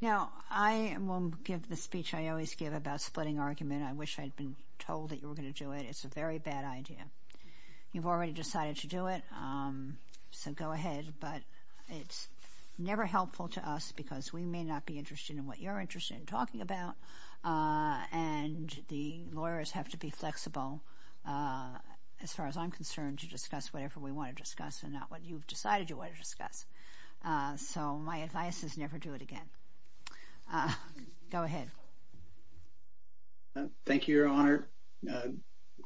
Now, I will give the speech I always give about splitting argument. I wish I'd been told that you were going to do it. It's a very bad idea. You've already decided to do it, so go ahead, but it's never helpful to us because we may not be interested in what you're interested in talking about, and the lawyers have to be flexible, as far as I'm concerned, to discuss whatever we want to discuss and not what you've decided you want to discuss. So my advice is never do it again. Go ahead. Thank you, Your Honor.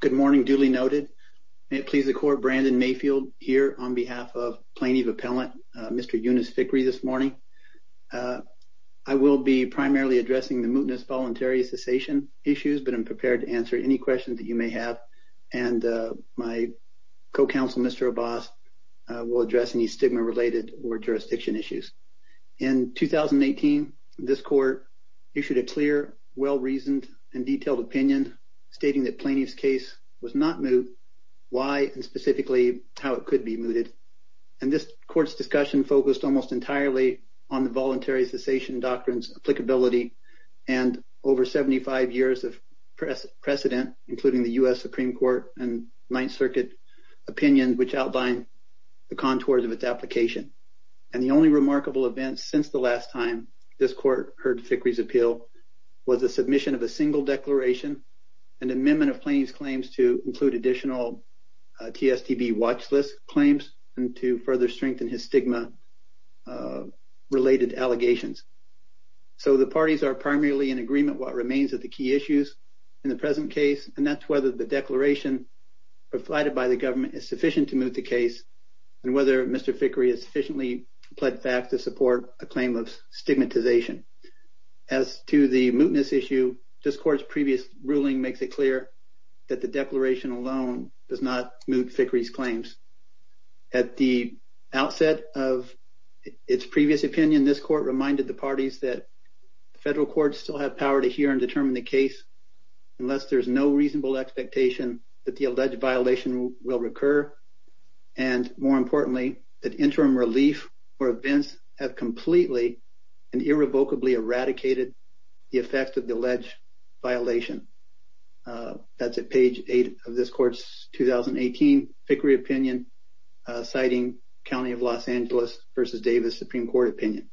Good morning, duly noted. May it please the Court, Brandon Mayfield here on behalf of Plaintiff Appellant Mr. Yonas Fikre this morning. I will be primarily addressing the mootness voluntary cessation issues, but I'm prepared to answer any questions that you may have, and my co-counsel, Mr. Abbas, will address any stigma-related or jurisdiction issues. In 2018, this Court issued a clear, well-reasoned, and detailed opinion stating that plaintiff's case was not moot, why, and specifically how it could be mooted. And this Court's discussion focused almost entirely on the voluntary cessation doctrine's applicability and over 75 years of precedent, including the U.S. Supreme Court and Ninth Circuit opinion, which outlined the contours of its application. And the only remarkable event since the last time this Court heard Fikre's appeal was the submission of a single declaration, an amendment of plaintiff's claims to include additional TSTB watchlist claims and to further strengthen his stigma-related allegations. So the parties are primarily in agreement what remains of the key issues in the present case, and that's whether the declaration provided by the government is sufficient to moot the case and whether Mr. Fikre has sufficiently pled fact to support a claim of stigmatization. As to the mootness issue, this Court's previous ruling makes it clear that the declaration alone does not moot Fikre's claims. At the outset of its previous opinion, this Court reminded the parties that the federal courts still have power to hear and determine the case unless there's no reasonable expectation that the alleged violation will recur, and more importantly, that interim relief for events have completely and irrevocably eradicated the effect of the alleged violation. That's at page 8 of this Court's 2018 Fikre opinion, citing County of Los Angeles v. Davis Supreme Court opinion.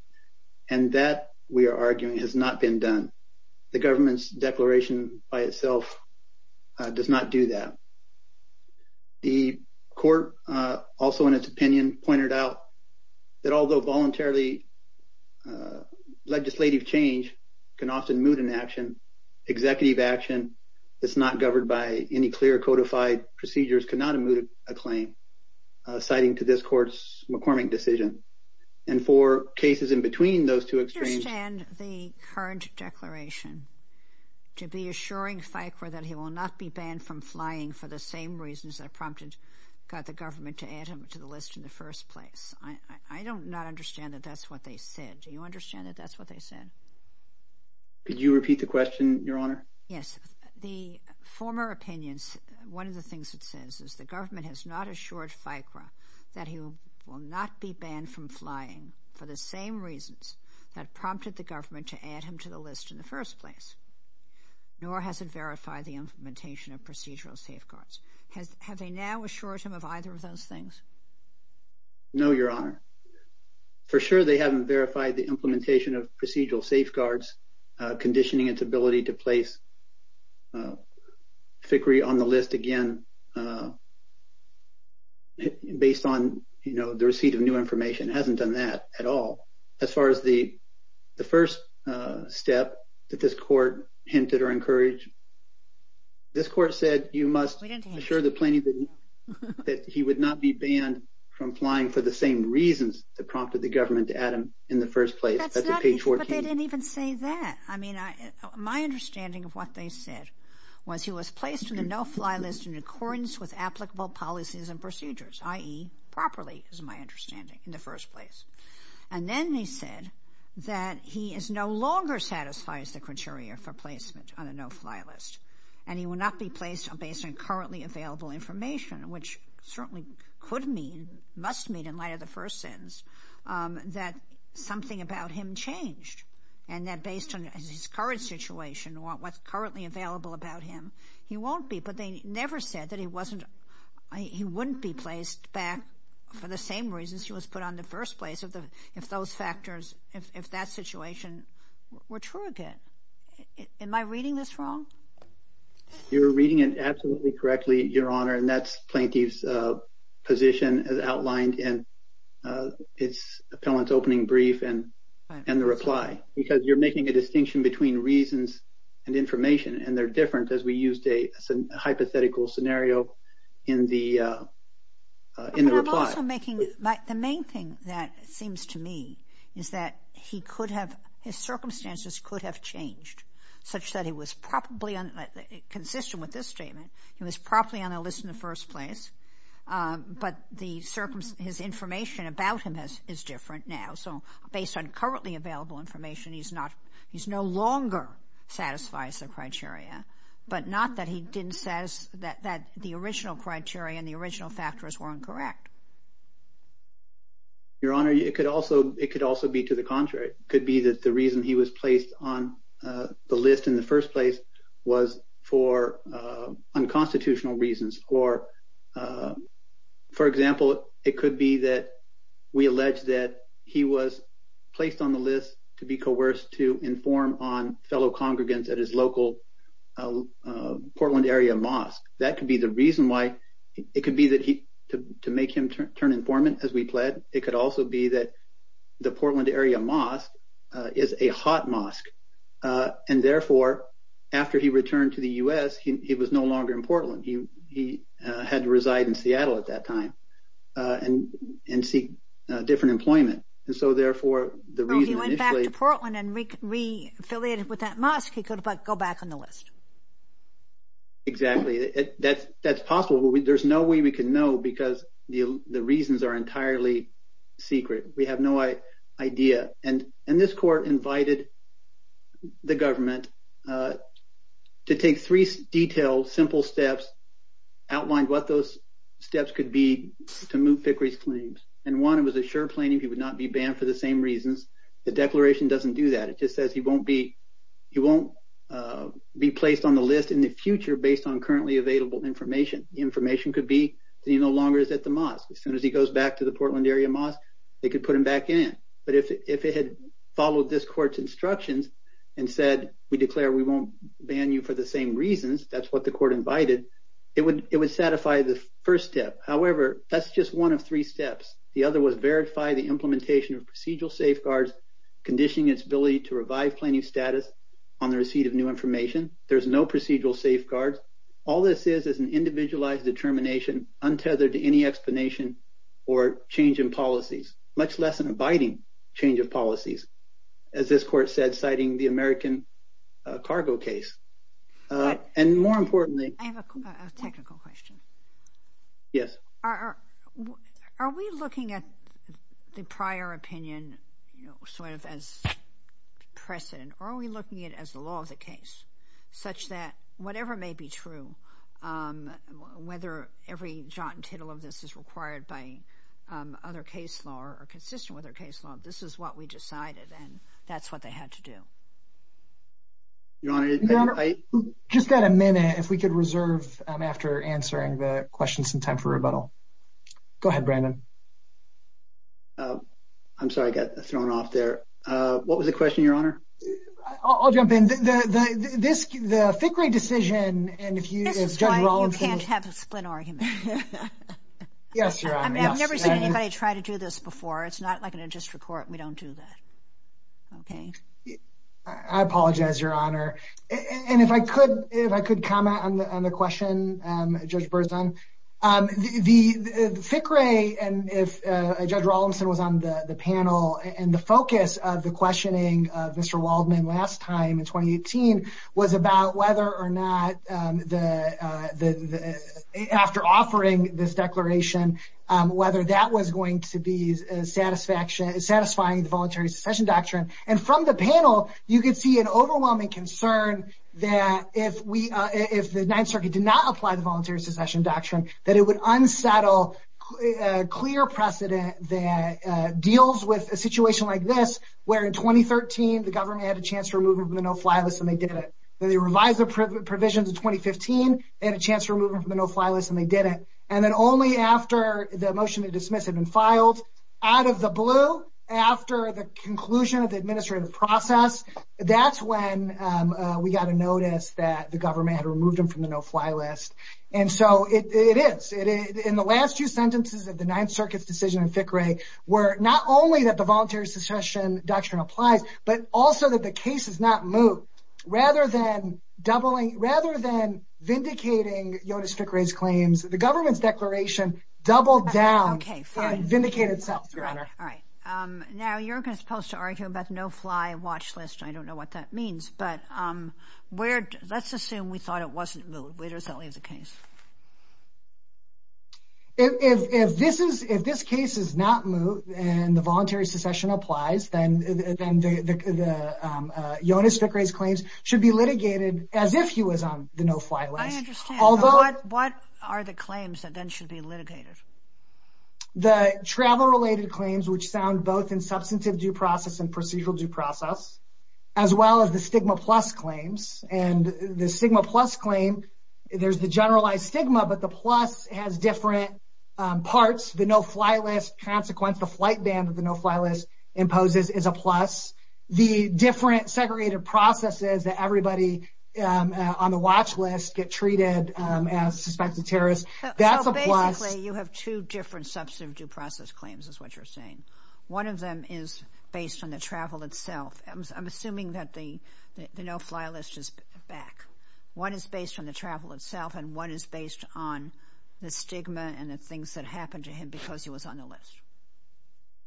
And that, we are arguing, has not been done. The government's declaration by itself does not do that. The Court, also in its opinion, pointed out that although voluntarily legislative change can often moot an action, executive action that's not governed by any clear codified procedures cannot moot a claim, citing to this Court's McCormick decision. And for cases in between those two extremes... I understand the current declaration to be assuring Fikre that he will not be banned from flying for the same reasons that prompted the government to add him to the list in the first place. I do not understand that that's what they said. Do you understand that that's what they said? Could you repeat the question, Your Honor? Yes. The former opinion, one of the things it says is the government has not assured Fikre that he will not be banned from flying for the same reasons that prompted the government to add him to the list in the first place, nor has it verified the implementation of procedural safeguards. Have they now assured him of either of those things? No, Your Honor. For sure they haven't verified the implementation of procedural safeguards, conditioning its ability to place Fikre on the list again based on the receipt of new information. It hasn't done that at all. As far as the first step that this Court hinted or encouraged, this Court said you must assure the plaintiff that he would not be banned from flying for the same reasons that prompted the government to add him in the first place. That's at page 14. No, they didn't even say that. I mean, my understanding of what they said was he was placed in the no-fly list in accordance with applicable policies and procedures, i.e., properly is my understanding, in the first place. And then they said that he no longer satisfies the criteria for placement on a no-fly list and he will not be placed based on currently available information, which certainly could mean, must mean in light of the first sentence, that something about him changed and that based on his current situation, what's currently available about him, he won't be. But they never said that he wasn't, he wouldn't be placed back for the same reasons he was put on the first place if those factors, if that situation were true again. Am I reading this wrong? You're reading it absolutely correctly, Your Honor, and that's plaintiff's position as outlined in its appellant's opening brief and the reply because you're making a distinction between reasons and information and they're different as we used a hypothetical scenario in the reply. But I'm also making, the main thing that seems to me is that he could have, his circumstances could have changed such that he was probably, consistent with this statement, he was probably on a list in the first place, but the circumstance, his information about him is different now. So based on currently available information, he's not, he's no longer satisfies the criteria, but not that he didn't, that the original criteria and the original factors were incorrect. Your Honor, it could also, it could also be to the contrary. It could be that the reason he was placed on the list in the first place was for unconstitutional reasons. Or, for example, it could be that we allege that he was placed on the list to be coerced to inform on fellow congregants at his local Portland area mosque. That could be the reason why, it could be that he, to make him turn informant as we pled, it could also be that the Portland area mosque is a hot mosque. And therefore, after he returned to the U.S., he was no longer in Portland. He had to reside in Seattle at that time and seek different employment. And so therefore, the reason initially... So he went back to Portland and re-affiliated with that mosque, he could go back on the list. Exactly. That's possible. There's no way we can know because the reasons are entirely secret. We have no idea. And this court invited the government to take three detailed, simple steps, outlined what those steps could be to move Fickrey's claims. And one, it was a sure plan if he would not be banned for the same reasons. The declaration doesn't do that. It just says he won't be placed on the list in the future based on currently available information. The information could be that he no longer is at the mosque. As soon as he goes back to the Portland area mosque, they could put him back in. But if it had followed this court's instructions and said, we declare we won't ban you for the same reasons, that's what the court invited, it would satisfy the first step. However, that's just one of three steps. The other was verify the implementation of procedural safeguards, conditioning its ability to revive plaintiff's status on the receipt of new information. There's no procedural safeguards. All this is is an individualized determination untethered to any explanation or change in policies, much less an abiding change of policies, as this court said, citing the American cargo case. And more importantly... I have a technical question. Yes. Are we looking at the prior opinion sort of as precedent, or are we looking at it as the law of the case, such that whatever may be true, whether every jot and tittle of this is required by other case law or consistent with other case law, this is what we decided, and that's what they had to do? Your Honor, just got a minute. If we could reserve after answering the questions some time for rebuttal. Go ahead, Brandon. I'm sorry. I got thrown off there. What was the question, Your Honor? I'll jump in. The FICRE decision... This is why you can't have a split argument. Yes, Your Honor. I've never seen anybody try to do this before. It's not like in a district court. We don't do that. Okay? I apologize, Your Honor. If I could comment on the question, Judge Berzon. The FICRE, and if Judge Rollinson was on the panel, and the focus of the questioning of Mr. Waldman last time in 2018, was about whether or not, after offering this declaration, whether that was going to be satisfying the Voluntary Succession Doctrine. And from the panel, you could see an overwhelming concern that if the Ninth Circuit did not apply the Voluntary Succession Doctrine, that it would unsettle clear precedent that deals with a situation like this, where in 2013 the government had a chance to remove them from the no-fly list, and they did it. When they revised the provisions in 2015, they had a chance to remove them from the no-fly list, and they did it. And then only after the motion to dismiss had been filed, out of the blue, after the conclusion of the administrative process, that's when we got a notice that the government had removed them from the no-fly list. And so it is. In the last few sentences of the Ninth Circuit's decision in FICRE, where not only that the Voluntary Succession Doctrine applies, but also that the case is not moved, rather than vindicating Yotus FICRE's claims, the government's declaration doubled down and vindicated itself, Your Honor. All right. Now, you're supposed to argue about the no-fly watch list. I don't know what that means. But let's assume we thought it wasn't moved. Where does that leave the case? If this case is not moved and the Voluntary Succession applies, then Yotus FICRE's claims should be litigated as if he was on the no-fly list. I understand. What are the claims that then should be litigated? The travel-related claims, which sound both in substantive due process and procedural due process, as well as the stigma-plus claims. And the stigma-plus claim, there's the generalized stigma, but the plus has different parts. The no-fly list consequence, the flight ban that the no-fly list imposes, is a plus. The different segregated processes that everybody on the watch list get treated as suspected terrorists, that's a plus. So, basically, you have two different substantive due process claims, is what you're saying. One of them is based on the travel itself. I'm assuming that the no-fly list is back. One is based on the travel itself, and one is based on the stigma and the things that happened to him because he was on the list.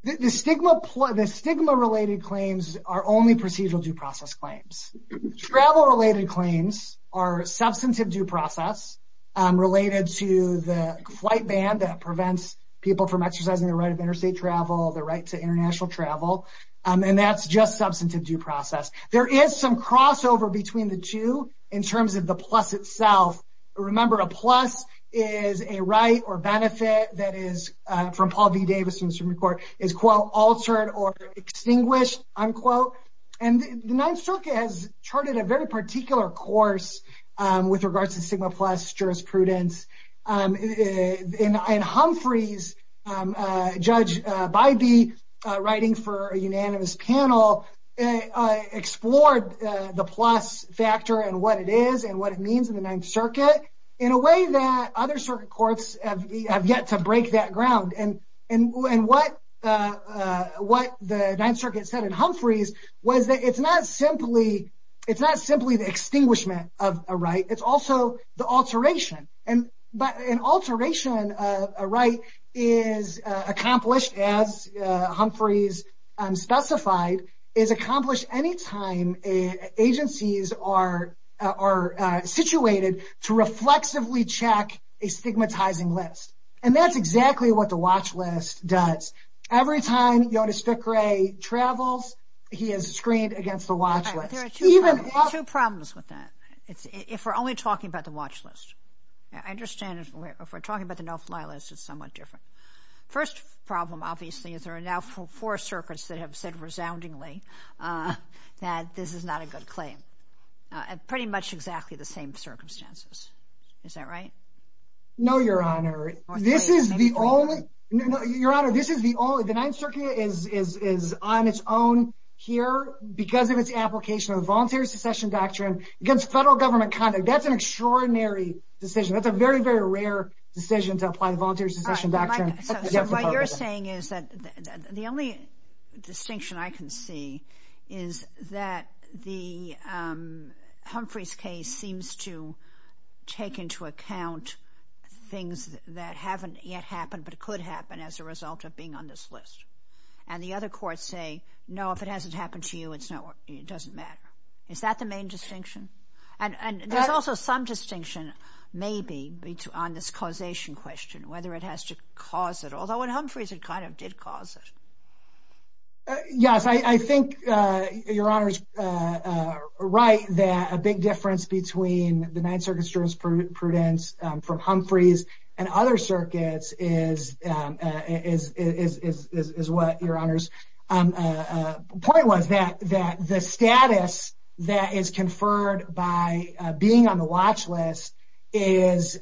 The stigma-related claims are only procedural due process claims. Travel-related claims are substantive due process related to the flight ban that prevents people from exercising the right of interstate travel, the right to international travel, and that's just substantive due process. There is some crossover between the two in terms of the plus itself. Remember, a plus is a right or benefit that is, from Paul V. Davis, from the Supreme Court, is, quote, altered or extinguished, unquote. And the Ninth Circuit has charted a very particular course with regards to stigma plus jurisprudence. In Humphreys, Judge Bybee, writing for a unanimous panel, explored the plus factor and what it is and what it means in the Ninth Circuit in a way that other circuit courts have yet to break that ground. And what the Ninth Circuit said in Humphreys was that it's not simply the extinguishment of a right, it's also the alteration. But an alteration of a right is accomplished, as Humphreys specified, is accomplished any time agencies are situated to reflexively check a stigmatizing list. And that's exactly what the watch list does. Every time Jonas Fickrey travels, he is screened against the watch list. There are two problems with that, if we're only talking about the watch list. I understand if we're talking about the no-fly list, it's somewhat different. First problem, obviously, is there are now four circuits that have said resoundingly that this is not a good claim, at pretty much exactly the same circumstances. Is that right? No, Your Honor. This is the only... Your Honor, this is the only... the Ninth Circuit is on its own here because of its application of the Voluntary Secession Doctrine against federal government conduct. That's an extraordinary decision. That's a very, very rare decision to apply the Voluntary Secession Doctrine. So what you're saying is that the only distinction I can see is that Humphrey's case seems to take into account things that haven't yet happened but could happen as a result of being on this list. And the other courts say, no, if it hasn't happened to you, it doesn't matter. Is that the main distinction? And there's also some distinction, maybe, on this causation question, whether it has to cause it, although in Humphrey's it kind of did cause it. Yes, I think Your Honor is right that a big difference between the Ninth Circuit's jurisprudence from Humphrey's and other circuits is what Your Honor's point was, that the status that is conferred by being on the watch list is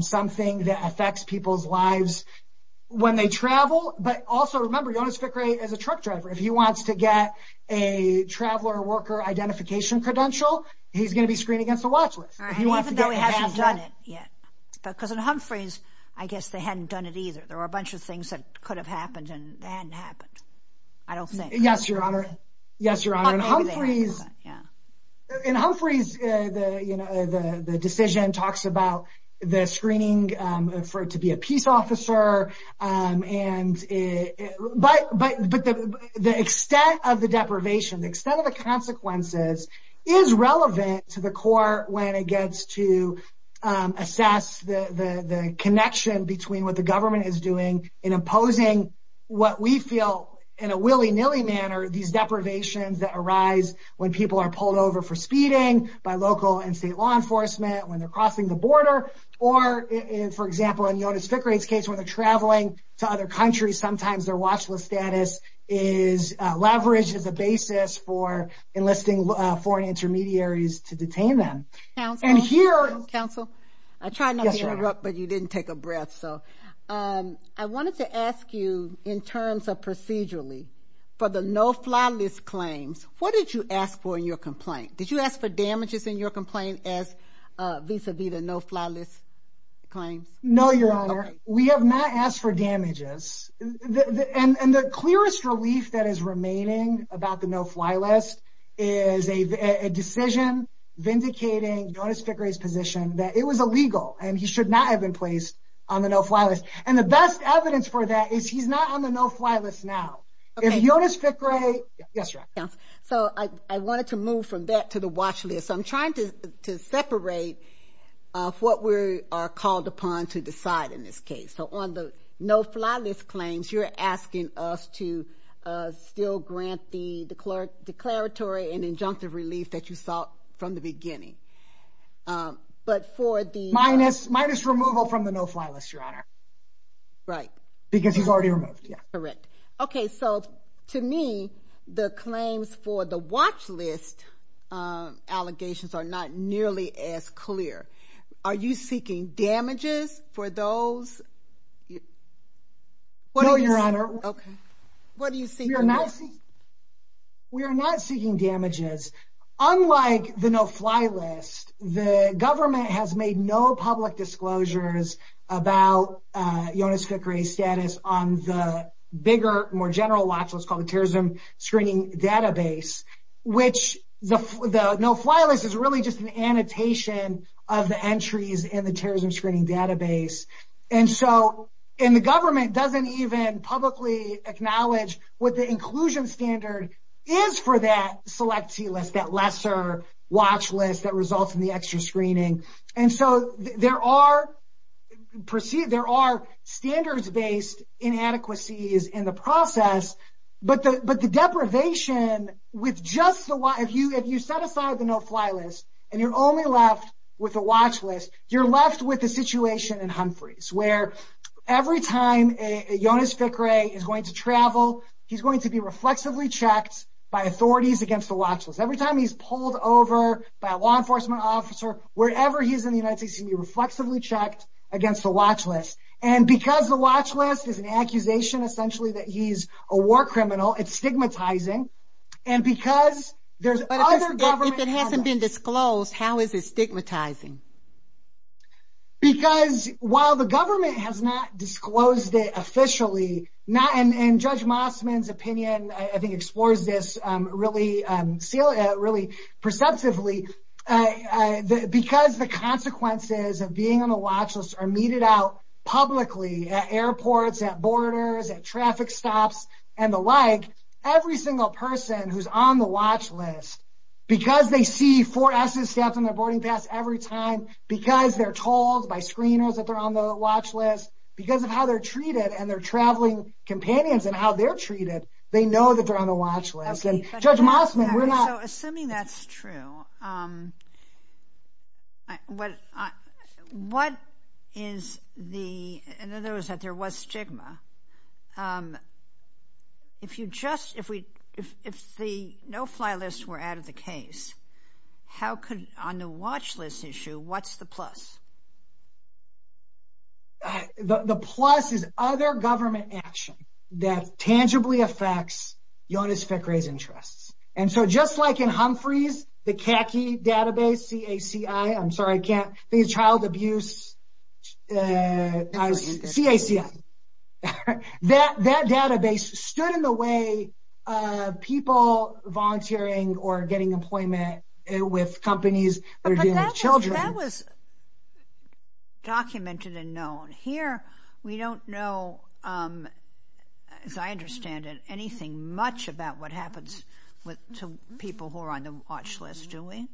something that affects people's lives when they travel. But also remember Jonas Fickrey is a truck driver. If he wants to get a traveler worker identification credential, he's going to be screened against the watch list. Even though he hasn't done it yet. Because in Humphrey's, I guess they hadn't done it either. There were a bunch of things that could have happened and hadn't happened. I don't think. Yes, Your Honor. Yes, Your Honor. In Humphrey's, the decision talks about the screening for it to be a peace officer, but the extent of the deprivation, the extent of the consequences is relevant to the court when it gets to assess the connection between what the government is doing in imposing what we feel in a willy-nilly manner, these deprivations that arise when people are pulled over for speeding by local and state law enforcement, when they're crossing the border. Or, for example, in Jonas Fickrey's case where they're traveling to other countries, sometimes their watch list status is leveraged as a basis for enlisting foreign intermediaries to detain them. Counsel? Counsel? I tried not to interrupt, but you didn't take a breath. I wanted to ask you in terms of procedurally, for the no-fly list claims, what did you ask for in your complaint? Did you ask for damages in your complaint vis-à-vis the no-fly list claims? No, Your Honor. Okay. We have not asked for damages. And the clearest relief that is remaining about the no-fly list is a decision vindicating Jonas Fickrey's position that it was illegal and he should not have been placed on the no-fly list. And the best evidence for that is he's not on the no-fly list now. Okay. If Jonas Fickrey, yes, Your Honor. Counsel, so I wanted to move from that to the watch list. So I'm trying to separate what we are called upon to decide in this case. So on the no-fly list claims, you're asking us to still grant the declaratory and injunctive relief that you sought from the beginning. But for the— Minus removal from the no-fly list, Your Honor. Right. Because he's already removed. Correct. Okay, so to me, the claims for the watch list allegations are not nearly as clear. Are you seeking damages for those? No, Your Honor. Okay. What are you seeking? We are not seeking damages. Unlike the no-fly list, the government has made no public disclosures about Jonas Fickrey's status on the bigger, more general watch list called the Terrorism Screening Database, which the no-fly list is really just an annotation of the entries in the Terrorism Screening Database. And so the government doesn't even publicly acknowledge what the inclusion standard is for that select T-list, that lesser watch list that results in the extra screening. And so there are standards-based inadequacies in the process, but the deprivation with just the— if you set aside the no-fly list and you're only left with a watch list, you're left with a situation in Humphreys where every time Jonas Fickrey is going to travel, he's going to be reflexively checked by authorities against the watch list. Every time he's pulled over by a law enforcement officer, wherever he's in the United States, he'll be reflexively checked against the watch list. And because the watch list is an accusation essentially that he's a war criminal, it's stigmatizing, and because there's other government— If it hasn't been disclosed, how is it stigmatizing? Because while the government has not disclosed it officially, and Judge Mossman's opinion I think explores this really perceptively, because the consequences of being on the watch list are meted out publicly at airports, at borders, at traffic stops, and the like, every single person who's on the watch list, because they see four S's stamped on their boarding pass every time, because they're told by screeners that they're on the watch list, because of how they're treated and their traveling companions and how they're treated, they know that they're on the watch list. And Judge Mossman, we're not— So assuming that's true, what is the— in other words, that there was stigma, if the no-fly lists were out of the case, on the watch list issue, what's the plus? The plus is other government action that tangibly affects Jonas Fickrey's interests. And so just like in Humphrey's, the CACI database, C-A-C-I, I'm sorry, I can't—the Child Abuse C-A-C-I. That database stood in the way of people volunteering or getting employment with companies that are dealing with children. That was documented and known. Here, we don't know, as I understand it, anything much about what happens to people who are on the watch list, do we?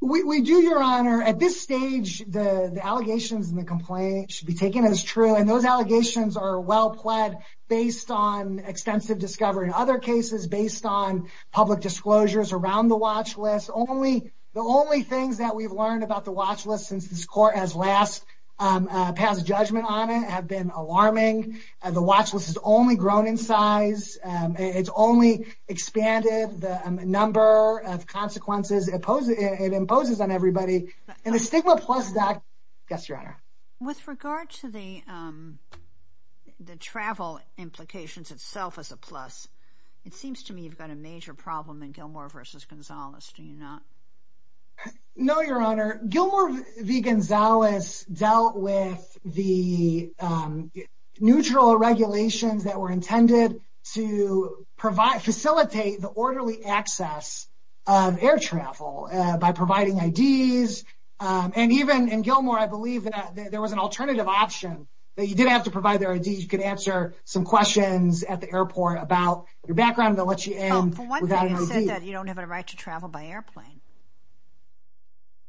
We do, Your Honor. At this stage, the allegations and the complaints should be taken as true, and those allegations are well-pled based on extensive discovery. In other cases, based on public disclosures around the watch list, the only things that we've learned about the watch list since this court has last passed judgment on it have been alarming. The watch list has only grown in size. It's only expanded the number of consequences it imposes on everybody. And the stigma plus, doc, yes, Your Honor? With regard to the travel implications itself as a plus, it seems to me you've got a major problem in Gilmore v. Gonzales, do you not? No, Your Honor. Gilmore v. Gonzales dealt with the neutral regulations that were intended to facilitate the orderly access of air travel by providing IDs. And even in Gilmore, I believe that there was an alternative option, that you didn't have to provide their IDs. You could answer some questions at the airport about your background, and they'll let you in without an ID. For one thing, it said that you don't have a right to travel by airplane.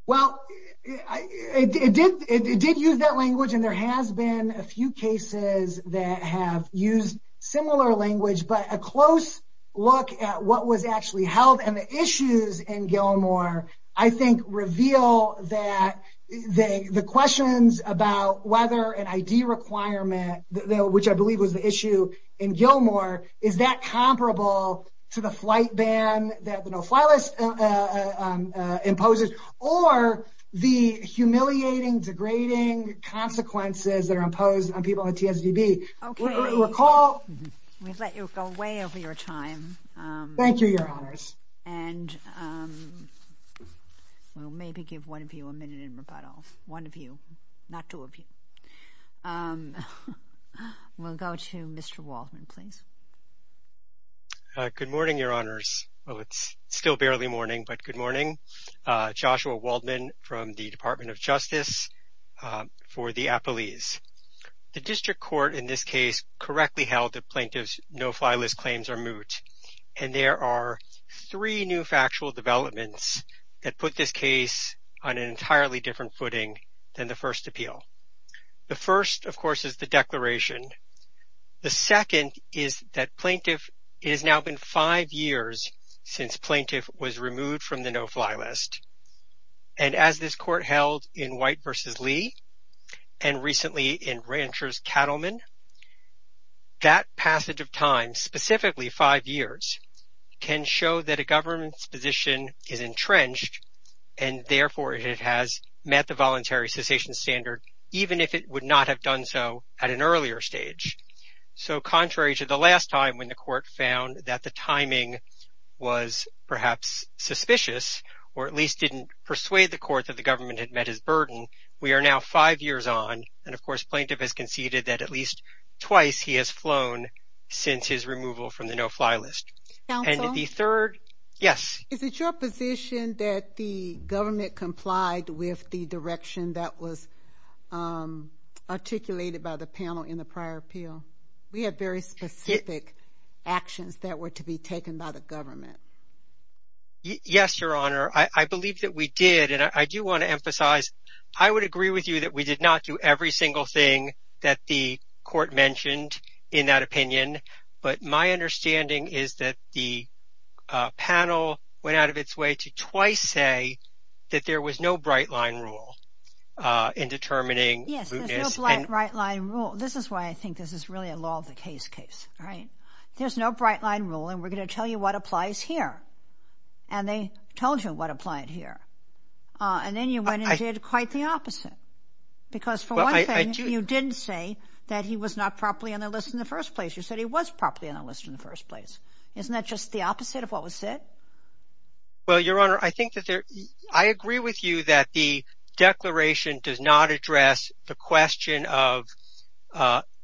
Well, it did use that language, and there has been a few cases that have used similar language, but a close look at what was actually held and the issues in Gilmore I think reveal that the questions about whether an ID requirement, which I believe was the issue in Gilmore, is that comparable to the flight ban that the no-fly list imposes or the humiliating, degrading consequences that are imposed on people in TSDB. Okay. Recall. We've let you go way over your time. Thank you, Your Honors. And we'll maybe give one of you a minute in rebuttal. One of you, not two of you. We'll go to Mr. Waldman, please. Good morning, Your Honors. Well, it's still barely morning, but good morning. Joshua Waldman from the Department of Justice for the Appalese. The district court in this case correctly held that plaintiffs' no-fly list claims are moot, and there are three new factual developments that put this case on an entirely different footing than the first appeal. The first, of course, is the declaration. The second is that it has now been five years since plaintiff was removed from the no-fly list, and as this court held in White v. Lee and recently in Rancher's Cattlemen, that passage of time, specifically five years, can show that a government's position is entrenched and therefore it has met the voluntary cessation standard, even if it would not have done so at an earlier stage. So contrary to the last time when the court found that the timing was perhaps suspicious or at least didn't persuade the court that the government had met its burden, twice he has flown since his removal from the no-fly list. And the third, yes? Is it your position that the government complied with the direction that was articulated by the panel in the prior appeal? We had very specific actions that were to be taken by the government. Yes, Your Honor. I believe that we did, and I do want to emphasize, I would agree with you that we did not do every single thing that the court mentioned in that opinion, but my understanding is that the panel went out of its way to twice say that there was no bright-line rule in determining mootness. Yes, there's no bright-line rule. This is why I think this is really a law-of-the-case case, right? There's no bright-line rule, and we're going to tell you what applies here. And they told you what applied here. And then you went and did quite the opposite, because for one thing, you didn't say that he was not properly on the list in the first place. You said he was properly on the list in the first place. Isn't that just the opposite of what was said? Well, Your Honor, I agree with you that the declaration does not address the question of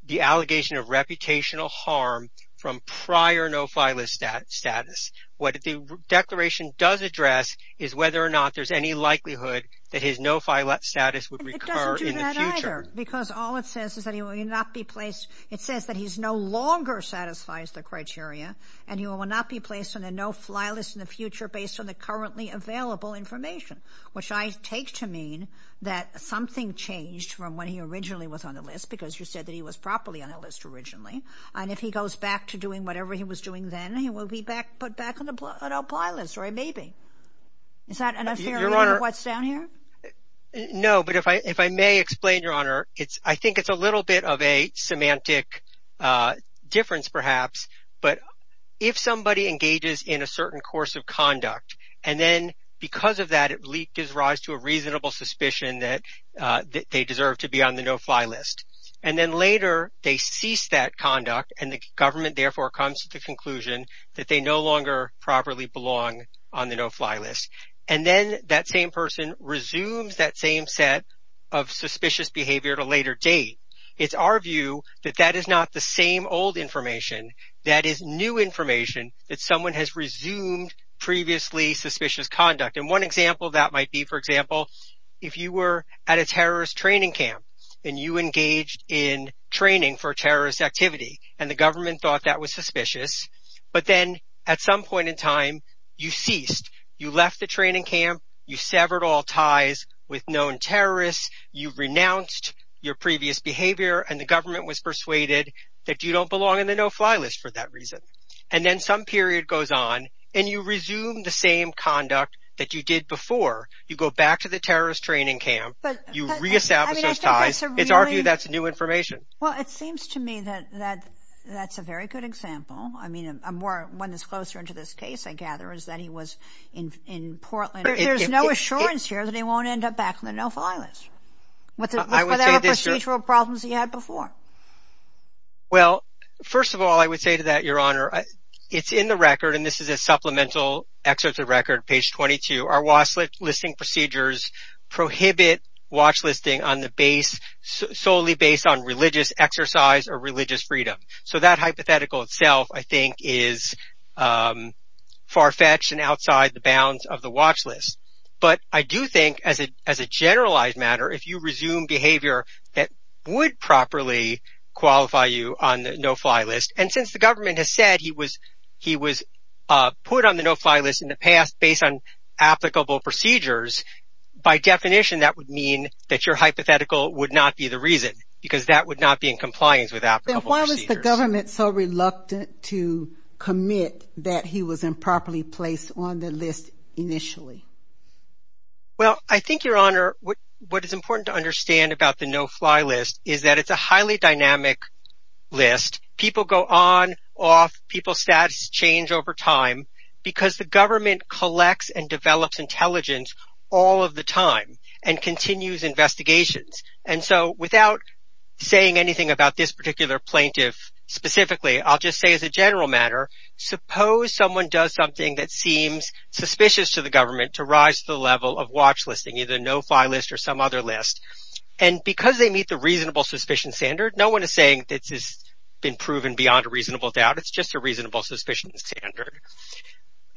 the allegation of reputational harm from prior no-fly list status. What the declaration does address is whether or not there's any likelihood that his no-fly list status would recur in the future. It doesn't do that either, because all it says is that he will not be placed. It says that he no longer satisfies the criteria, and he will not be placed on a no-fly list in the future based on the currently available information, which I take to mean that something changed from when he originally was on the list, because you said that he was properly on the list originally. And if he goes back to doing whatever he was doing then, he will be put back on the no-fly list, or maybe. Is that enough to figure out what's down here? No, but if I may explain, Your Honor, I think it's a little bit of a semantic difference perhaps, but if somebody engages in a certain course of conduct, and then because of that, it gives rise to a reasonable suspicion that they deserve to be on the no-fly list, and then later they cease that conduct, and the government, therefore, comes to the conclusion that they no longer properly belong on the no-fly list. And then that same person resumes that same set of suspicious behavior at a later date. It's our view that that is not the same old information. That is new information that someone has resumed previously suspicious conduct. And one example of that might be, for example, if you were at a terrorist training camp and you engaged in training for terrorist activity, and the government thought that was suspicious, but then at some point in time, you ceased. You left the training camp. You severed all ties with known terrorists. You renounced your previous behavior, and the government was persuaded that you don't belong in the no-fly list for that reason. And then some period goes on, and you resume the same conduct that you did before. You go back to the terrorist training camp. You reestablish those ties. It's our view that's new information. Well, it seems to me that that's a very good example. I mean, one that's closer into this case, I gather, is that he was in Portland. There's no assurance here that he won't end up back in the no-fly list. Were there procedural problems he had before? Well, first of all, I would say to that, Your Honor, it's in the record, and this is a supplemental excerpt of the record, page 22. Our watch listing procedures prohibit watch listing solely based on religious exercise or religious freedom. So that hypothetical itself, I think, is far-fetched and outside the bounds of the watch list. But I do think, as a generalized matter, if you resume behavior that would properly qualify you on the no-fly list, and since the government has said he was put on the no-fly list in the past based on applicable procedures, by definition, that would mean that your hypothetical would not be the reason, because that would not be in compliance with applicable procedures. Then why was the government so reluctant to commit that he was improperly placed on the list initially? Well, I think, Your Honor, what is important to understand about the no-fly list is that it's a highly dynamic list. People go on, off, people's status change over time, because the government collects and develops intelligence all of the time and continues investigations. And so without saying anything about this particular plaintiff specifically, I'll just say as a general matter, suppose someone does something that seems suspicious to the government to rise to the level of watch listing, either no-fly list or some other list, and because they meet the reasonable suspicion standard, no one is saying this has been proven beyond a reasonable doubt. It's just a reasonable suspicion standard.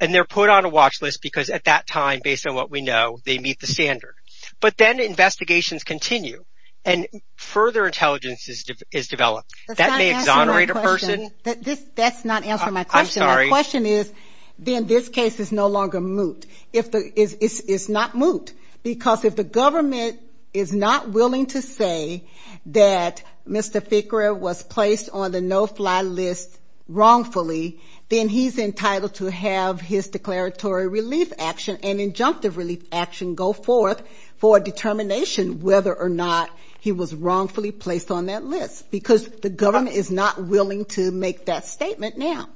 And they're put on a watch list because at that time, based on what we know, they meet the standard. But then investigations continue and further intelligence is developed. That may exonerate a person. That's not answering my question. I'm sorry. My question is, then this case is no longer moot. It's not moot. Because if the government is not willing to say that Mr. Fikura was placed on the no-fly list wrongfully, then he's entitled to have his declaratory relief action and injunctive relief action go forth for a determination whether or not he was wrongfully placed on that list. Because the government is not willing to make that statement now.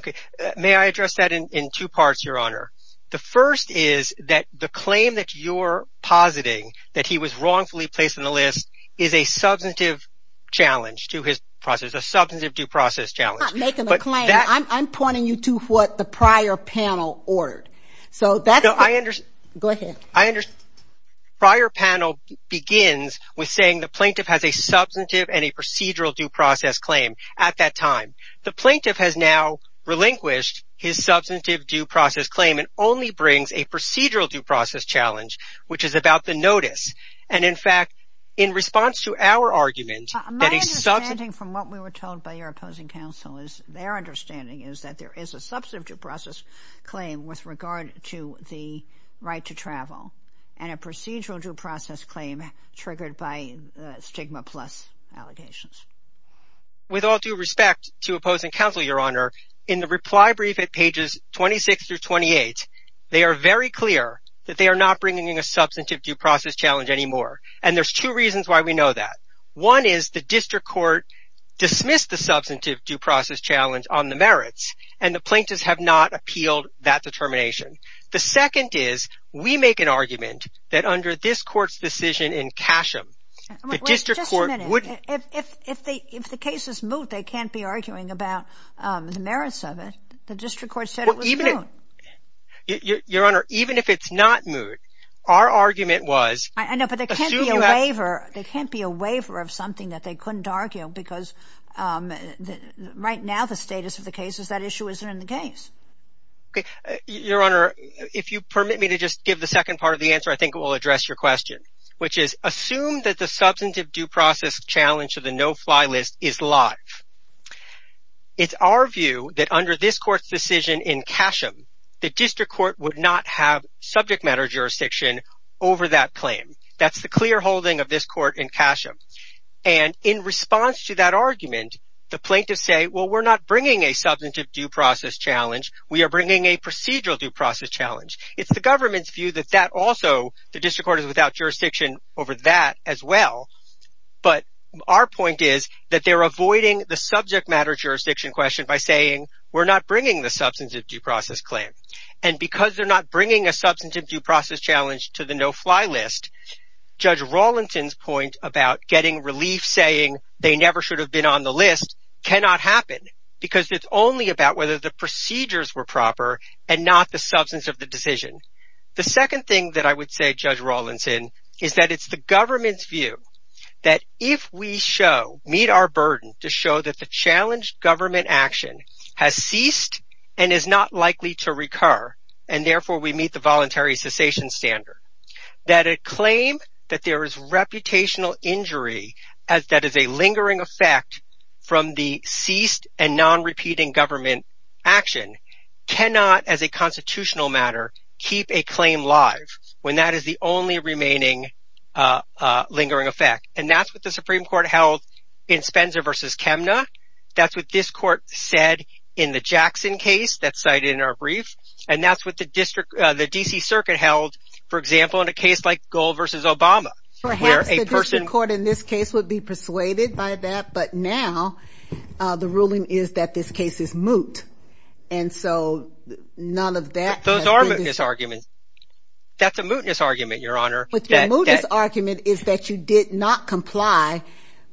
Okay. May I address that in two parts, Your Honor? The first is that the claim that you're positing, that he was wrongfully placed on the list, is a substantive challenge to his process, a substantive due process challenge. I'm not making a claim. I'm pointing you to what the prior panel ordered. Go ahead. I understand. Prior panel begins with saying the plaintiff has a substantive and a procedural due process claim at that time. The plaintiff has now relinquished his substantive due process claim and only brings a procedural due process challenge, which is about the notice. And, in fact, in response to our argument that a substantive My understanding from what we were told by your opposing counsel is, their understanding is that there is a substantive due process claim with regard to the right to travel and a procedural due process claim triggered by stigma plus allegations. With all due respect to opposing counsel, Your Honor, in the reply brief at pages 26 through 28, they are very clear that they are not bringing in a substantive due process challenge anymore. And there's two reasons why we know that. One is the district court dismissed the substantive due process challenge on the merits, and the plaintiffs have not appealed that determination. The second is we make an argument that under this court's decision in Casham, the district court would Just a minute. If the case is moot, they can't be arguing about the merits of it. The district court said it was moot. Your Honor, even if it's not moot, our argument was I know, but there can't be a waiver of something that they couldn't argue because right now the status of the case is that issue isn't in the case. Your Honor, if you permit me to just give the second part of the answer, I think it will address your question, which is assume that the substantive due process challenge of the no-fly list is live. It's our view that under this court's decision in Casham, the district court would not have subject matter jurisdiction over that claim. That's the clear holding of this court in Casham. And in response to that argument, the plaintiffs say, well, we're not bringing a substantive due process challenge. We are bringing a procedural due process challenge. It's the government's view that that also, the district court is without jurisdiction over that as well. But our point is that they're avoiding the subject matter jurisdiction question by saying we're not bringing the substantive due process claim. And because they're not bringing a substantive due process challenge to the no-fly list, Judge Rawlinson's point about getting relief saying they never should have been on the list cannot happen because it's only about whether the procedures were proper and not the substance of the decision. The second thing that I would say, Judge Rawlinson, is that it's the government's view that if we show, meet our burden to show that the challenged government action has ceased and is not likely to recur, and therefore we meet the voluntary cessation standard, that a claim that there is reputational injury that is a lingering effect from the ceased and non-repeating government action cannot, as a constitutional matter, keep a claim live when that is the only remaining lingering effect. And that's what the Supreme Court held in Spenza v. Chemna. That's what this court said in the Jackson case that's cited in our brief. And that's what the D.C. Circuit held, for example, in a case like Gold v. Obama. Perhaps the district court in this case would be persuaded by that, but now the ruling is that this case is moot, and so none of that. Those are mootness arguments. That's a mootness argument, Your Honor. The mootness argument is that you did not comply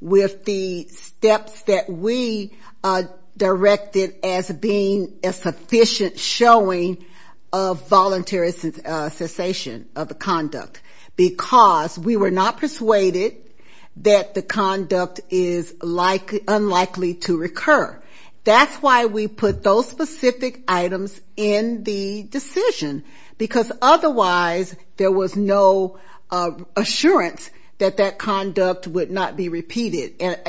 with the steps that we directed as being a sufficient showing of voluntary cessation of the conduct, because we were not persuaded that the conduct is unlikely to recur. That's why we put those specific items in the decision, because otherwise there was no assurance that that conduct would not be repeated. And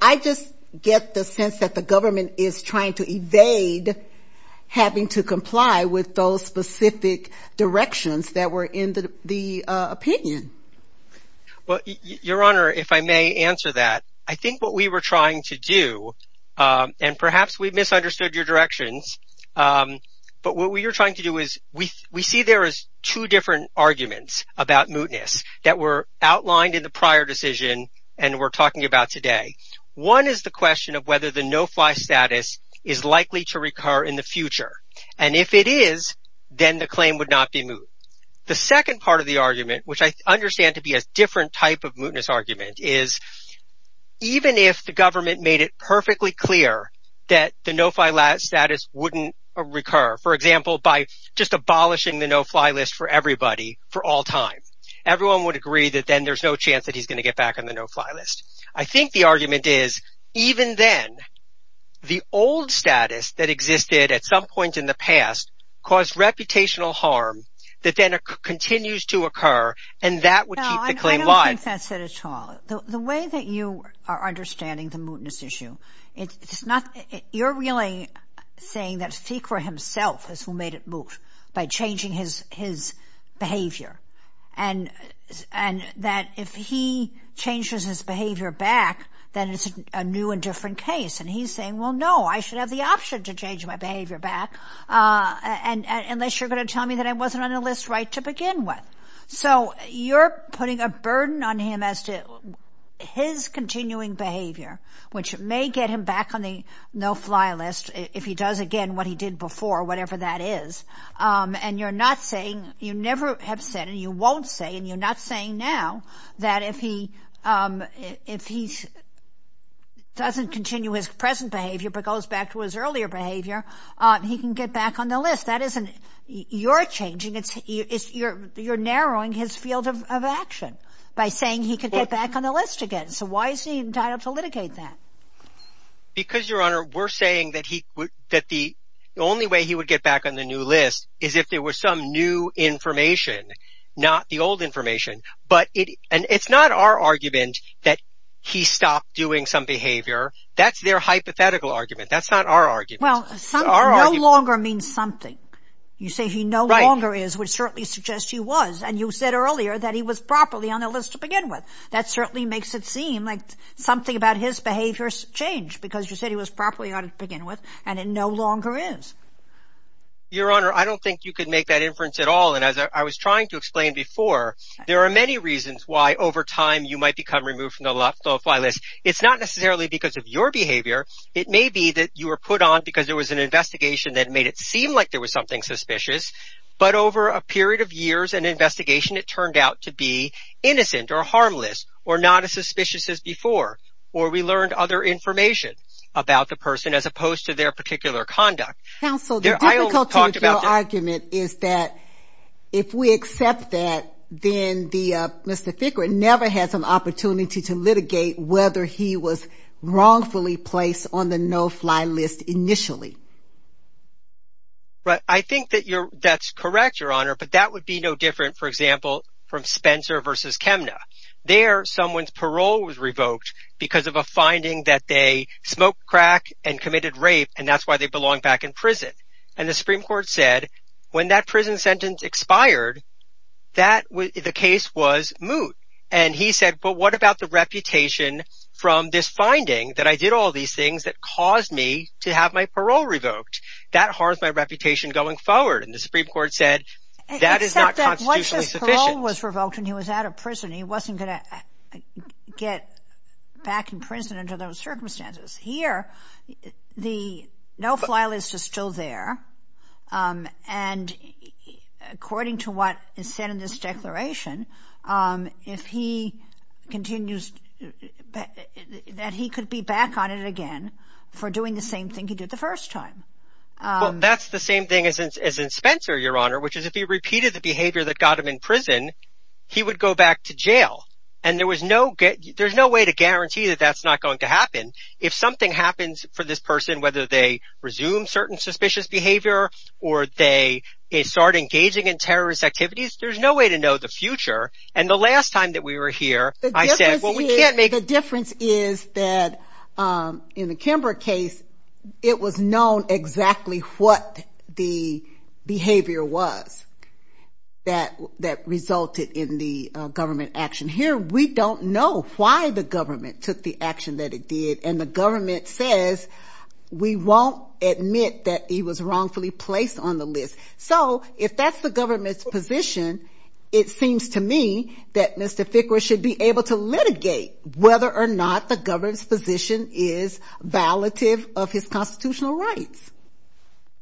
I just get the sense that the government is trying to evade having to comply with those specific directions that were in the opinion. Well, Your Honor, if I may answer that. I think what we were trying to do, and perhaps we misunderstood your directions, but what we were trying to do is we see there as two different arguments about mootness that were outlined in the prior decision and we're talking about today. One is the question of whether the no-fly status is likely to recur in the future. And if it is, then the claim would not be moot. The second part of the argument, which I understand to be a different type of mootness argument, is even if the government made it perfectly clear that the no-fly status wouldn't recur, for example, by just abolishing the no-fly list for everybody for all time, everyone would agree that then there's no chance that he's going to get back on the no-fly list. I think the argument is even then, the old status that existed at some point in the past caused reputational harm that then continues to occur and that would keep the claim alive. I don't think that's it at all. The way that you are understanding the mootness issue, you're really saying that Fikra himself is who made it moot by changing his behavior and that if he changes his behavior back, then it's a new and different case. And he's saying, well, no, I should have the option to change my behavior back unless you're going to tell me that I wasn't on the list right to begin with. So you're putting a burden on him as to his continuing behavior, which may get him back on the no-fly list if he does again what he did before, whatever that is. And you're not saying, you never have said, and you won't say, and you're not saying now that if he doesn't continue his present behavior but goes back to his earlier behavior, he can get back on the list. That isn't your changing. You're narrowing his field of action by saying he could get back on the list again. So why is he entitled to litigate that? Because, Your Honor, we're saying that the only way he would get back on the new list is if there was some new information, not the old information. But it's not our argument that he stopped doing some behavior. That's their hypothetical argument. That's not our argument. Well, no longer means something. You say he no longer is, which certainly suggests he was. And you said earlier that he was properly on the list to begin with. That certainly makes it seem like something about his behavior has changed because you said he was properly on it to begin with, and it no longer is. Your Honor, I don't think you could make that inference at all. And as I was trying to explain before, there are many reasons why over time you might become removed from the no-fly list. It's not necessarily because of your behavior. It may be that you were put on because there was an investigation that made it seem like there was something suspicious. But over a period of years and investigation, it turned out to be innocent or harmless or not as suspicious as before, or we learned other information about the person as opposed to their particular conduct. Counsel, the difficulty with your argument is that if we accept that, then Mr. Fickrin never has an opportunity to litigate whether he was wrongfully placed on the no-fly list initially. I think that's correct, Your Honor, but that would be no different, for example, from Spencer v. Chemna. There, someone's parole was revoked because of a finding that they smoked crack and committed rape, and that's why they belong back in prison. And the Supreme Court said when that prison sentence expired, the case was moot. And he said, but what about the reputation from this finding that I did all these things that caused me to have my parole revoked? That harmed my reputation going forward, and the Supreme Court said that is not constitutionally sufficient. Except that once his parole was revoked and he was out of prison, he wasn't going to get back in prison under those circumstances. Here, the no-fly list is still there, and according to what is said in this declaration, if he continues that he could be back on it again for doing the same thing he did the first time. Well, that's the same thing as in Spencer, Your Honor, which is if he repeated the behavior that got him in prison, he would go back to jail. And there's no way to guarantee that that's not going to happen. If something happens for this person, whether they resume certain suspicious behavior or they start engaging in terrorist activities, there's no way to know the future. And the last time that we were here, I said, well, we can't make... The difference is that in the Kimbrough case, it was known exactly what the behavior was that resulted in the government action. Here, we don't know why the government took the action that it did, and the government says we won't admit that he was wrongfully placed on the list. So if that's the government's position, it seems to me that Mr. Fickler should be able to litigate whether or not the government's position is violative of his constitutional rights.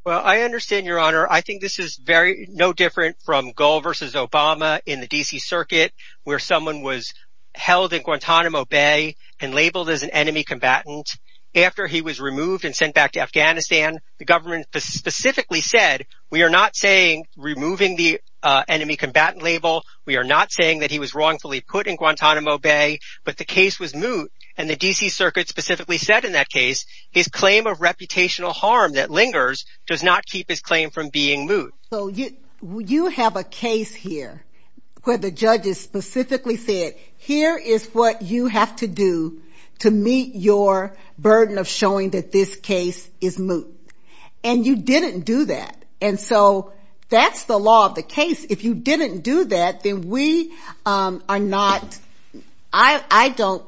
Well, I understand, Your Honor. I think this is no different from Gull v. Obama in the D.C. Circuit, where someone was held in Guantanamo Bay and labeled as an enemy combatant. After he was removed and sent back to Afghanistan, the government specifically said, we are not saying removing the enemy combatant label, we are not saying that he was wrongfully put in Guantanamo Bay, but the case was moot. And the D.C. Circuit specifically said in that case, his claim of reputational harm that lingers does not keep his claim from being moot. So you have a case here where the judges specifically said, here is what you have to do to meet your burden of showing that this case is moot. And you didn't do that. And so that's the law of the case. If you didn't do that, then we are not, I don't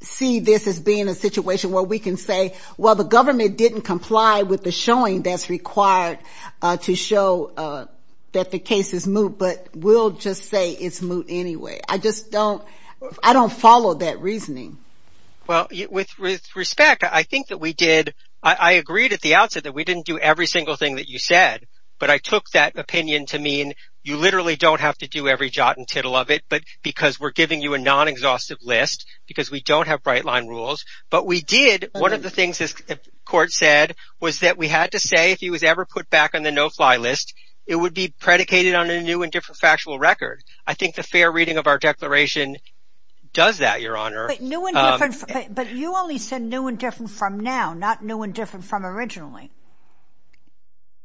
see this as being a situation where we can say, well, the government didn't comply with the showing that's required to show that the case is moot, but we'll just say it's moot anyway. I just don't, I don't follow that reasoning. Well, with respect, I think that we did, I agreed at the outset that we didn't do every single thing that you said, but I took that opinion to mean you literally don't have to do every jot and tittle of it, but because we're giving you a non-exhaustive list, because we don't have bright line rules, but we did, one of the things this court said was that we had to say, if he was ever put back on the no-fly list, it would be predicated on a new and different factual record. I think the fair reading of our declaration does that, Your Honor. But you only said new and different from now, not new and different from originally.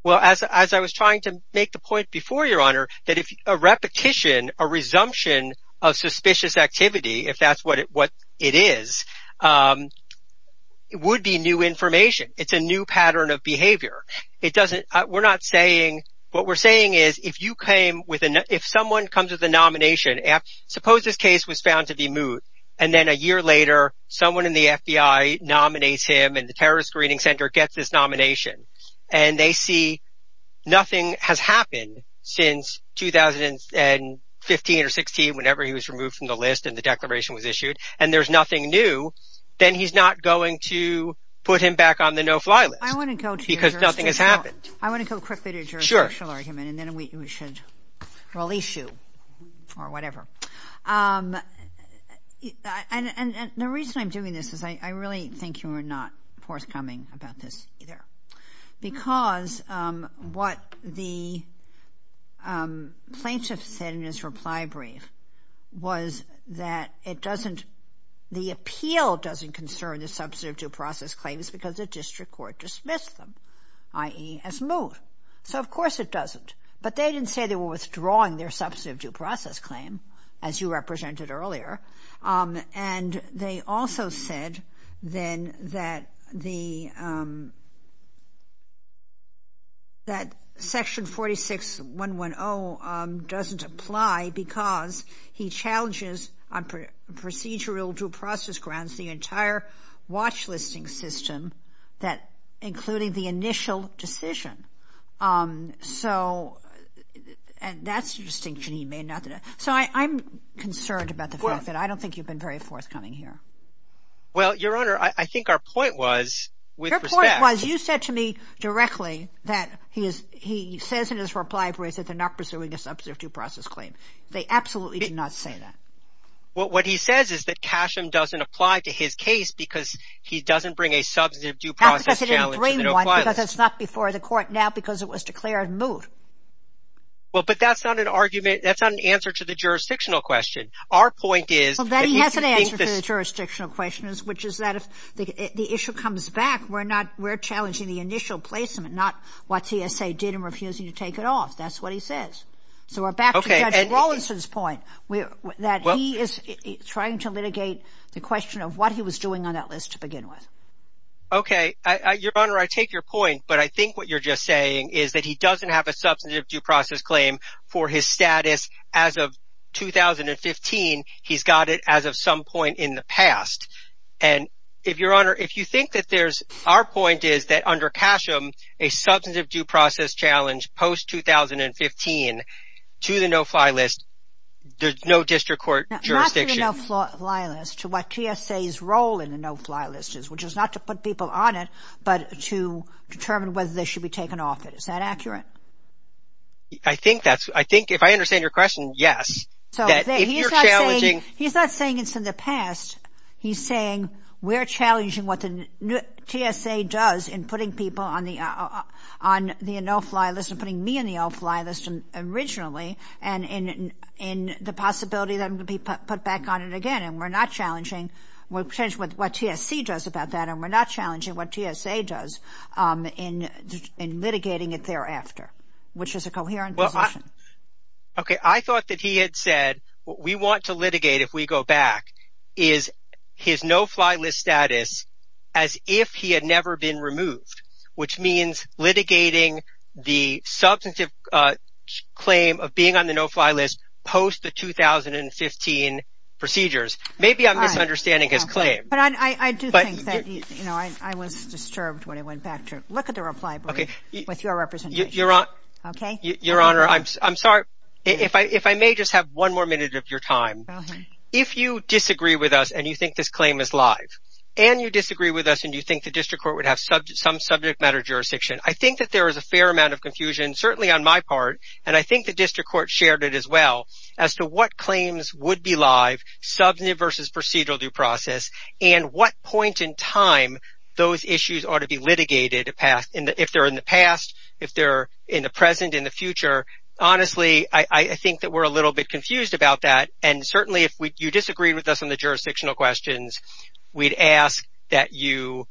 Well, as I was trying to make the point before, Your Honor, that if a repetition, a resumption of suspicious activity, if that's what it is, would be new information. It's a new pattern of behavior. It doesn't, we're not saying, what we're saying is, if you came with, if someone comes with a nomination, suppose this case was found to be moot, and then a year later, someone in the FBI nominates him, and the Terrorist Screening Center gets this nomination, and they see nothing has happened since 2015 or 16, whenever he was removed from the list and the declaration was issued, and there's nothing new, then he's not going to put him back on the no-fly list. I want to go to your jurisdictional argument. Because nothing has happened. I want to go quickly to your jurisdictional argument, and then we should release you or whatever. And the reason I'm doing this is, I really think you were not forthcoming about this either. Because what the plaintiff said in his reply brief was that it doesn't, the appeal doesn't concern the substantive due process claims because the district court dismissed them, i.e. as moot. So, of course, it doesn't. But they didn't say they were withdrawing their substantive due process claim, as you represented earlier. And they also said, then, that the, that Section 46-110 doesn't apply because he challenges on procedural due process grounds the entire watch-listing system, including the initial decision. So, and that's a distinction he made. So, I'm concerned about the fact that I don't think you've been very forthcoming here. Well, Your Honor, I think our point was, with respect. Your point was, you said to me directly that he is, he says in his reply brief that they're not pursuing a substantive due process claim. They absolutely did not say that. Well, what he says is that Casham doesn't apply to his case because he doesn't bring a substantive due process challenge to the no-fly list. That's because he didn't bring one because it's not before the court now because it was declared moot. Well, but that's not an argument. That's not an answer to the jurisdictional question. Our point is. Well, then he has an answer to the jurisdictional question, which is that if the issue comes back, we're not, we're challenging the initial placement, not what TSA did in refusing to take it off. That's what he says. So, we're back to Judge Rawlinson's point, that he is trying to litigate the question of what he was doing on that list to begin with. Okay. Your Honor, I take your point, but I think what you're just saying is that he doesn't have a substantive due process claim for his status as of 2015. He's got it as of some point in the past. And if, Your Honor, if you think that there's, our point is that under Casham, a substantive due process challenge post-2015 to the no-fly list, there's no district court jurisdiction. Not to the no-fly list, to what TSA's role in the no-fly list is, which is not to put people on it, but to determine whether they should be taken off it. Is that accurate? I think that's, I think if I understand your question, yes. So, he's not saying it's in the past. He's saying we're challenging what the TSA does in putting people on the no-fly list and putting me on the no-fly list originally, and in the possibility that I'm going to be put back on it again. And we're not challenging, we're challenging what TSC does about that, and we're not challenging what TSA does in litigating it thereafter, which is a coherent position. Okay, I thought that he had said, we want to litigate if we go back, is his no-fly list status as if he had never been removed, which means litigating the substantive claim of being on the no-fly list post the 2015 procedures. Maybe I'm misunderstanding his claim. But I do think that, you know, I was disturbed when I went back to look at the reply brief with your representation. Okay. Your Honor, I'm sorry, if I may just have one more minute of your time. Go ahead. If you disagree with us and you think this claim is live, and you disagree with us and you think the district court would have some subject matter jurisdiction, I think that there is a fair amount of confusion, certainly on my part, and I think the district court shared it as well, as to what claims would be live, substantive versus procedural due process, and what point in time those issues ought to be litigated if they're in the past, if they're in the present, in the future. Honestly, I think that we're a little bit confused about that, and certainly if you disagree with us on the jurisdictional questions, we'd ask that you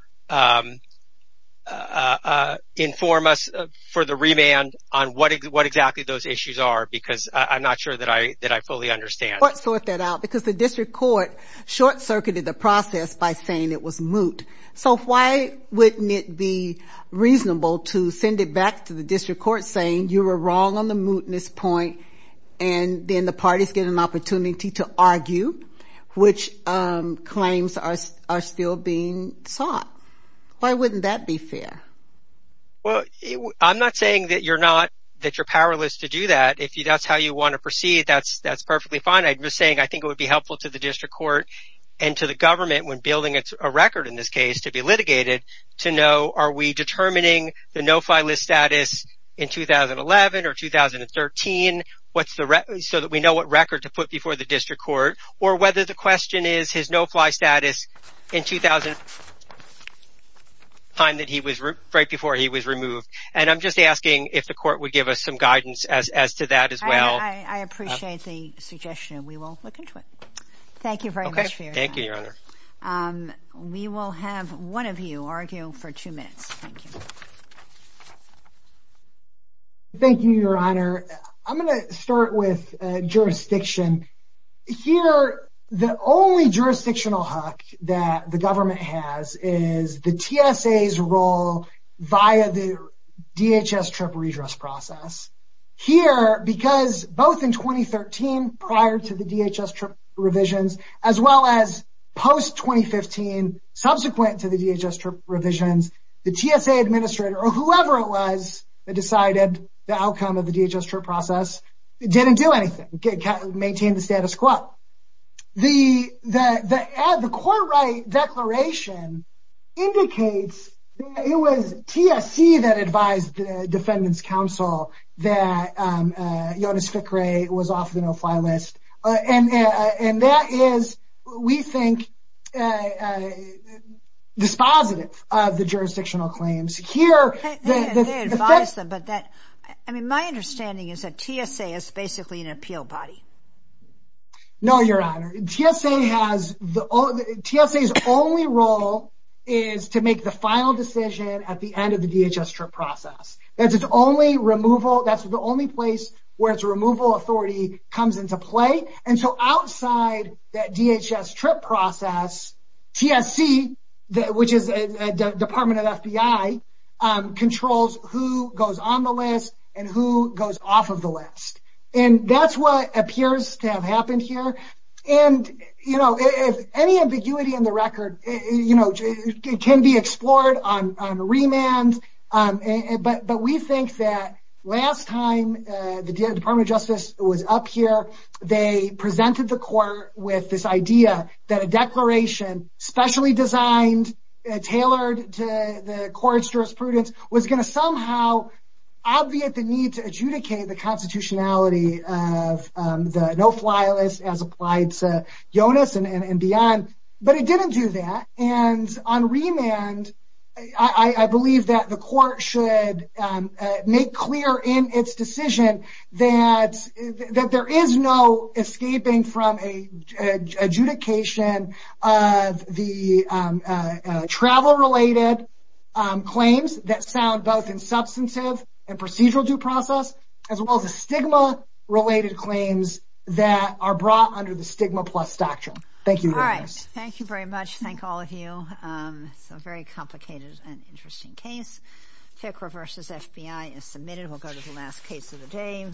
inform us for the remand on what exactly those issues are, because I'm not sure that I fully understand. Let's sort that out, because the district court short-circuited the process by saying it was moot. So why wouldn't it be reasonable to send it back to the district court saying you were wrong on the mootness point, and then the parties get an opportunity to argue which claims are still being sought? Why wouldn't that be fair? Well, I'm not saying that you're powerless to do that. If that's how you want to proceed, that's perfectly fine. I'm just saying I think it would be helpful to the district court and to the government when building a record in this case to be litigated, to know are we determining the no-fly list status in 2011 or 2013, so that we know what record to put before the district court, or whether the question is his no-fly status in the time right before he was removed. And I'm just asking if the court would give us some guidance as to that as well. I appreciate the suggestion, and we will look into it. Thank you, Your Honor. We will have one of you argue for two minutes. Thank you, Your Honor. I'm going to start with jurisdiction. Here, the only jurisdictional hook that the government has is the TSA's role via the DHS trip redress process. Here, because both in 2013, prior to the DHS trip revisions, as well as post-2015, subsequent to the DHS trip revisions, the TSA administrator, or whoever it was that decided the outcome of the DHS trip process, didn't do anything. Maintained the status quo. The court right declaration indicates that it was TSC that advised the defendants' counsel that Jonas Fickrey was off the no-fly list, and that is, we think, dispositive of the jurisdictional claims. Here, the... They advised them, but that... I mean, my understanding is that TSA is basically an appeal body. No, Your Honor. TSA has... TSA's only role is to make the final decision at the end of the DHS trip process. That's its only removal... That's the only place where its removal authority comes into play, and so outside that DHS trip process, TSC, which is a department of the FBI, controls who goes on the list and who goes off of the list, and that's what appears to have happened here, and any ambiguity in the record can be explored on remand, but we think that last time the Department of Justice was up here, they presented the court with this idea that a declaration specially designed, tailored to the court's jurisprudence, was going to somehow obviate the need to adjudicate the constitutionality of the no-fly list as applied to Jonas and beyond, but it didn't do that, and on remand, I believe that the court should make clear in its decision that there is no escaping from adjudication of the travel-related claims that sound both insubstantive and procedural due process, as well as the stigma-related claims that are brought under the stigma plus doctrine. Thank you very much. All right. Thank you very much. Thank all of you. It's a very complicated and interesting case. FICRA versus FBI is submitted. We'll go to the last case of the day.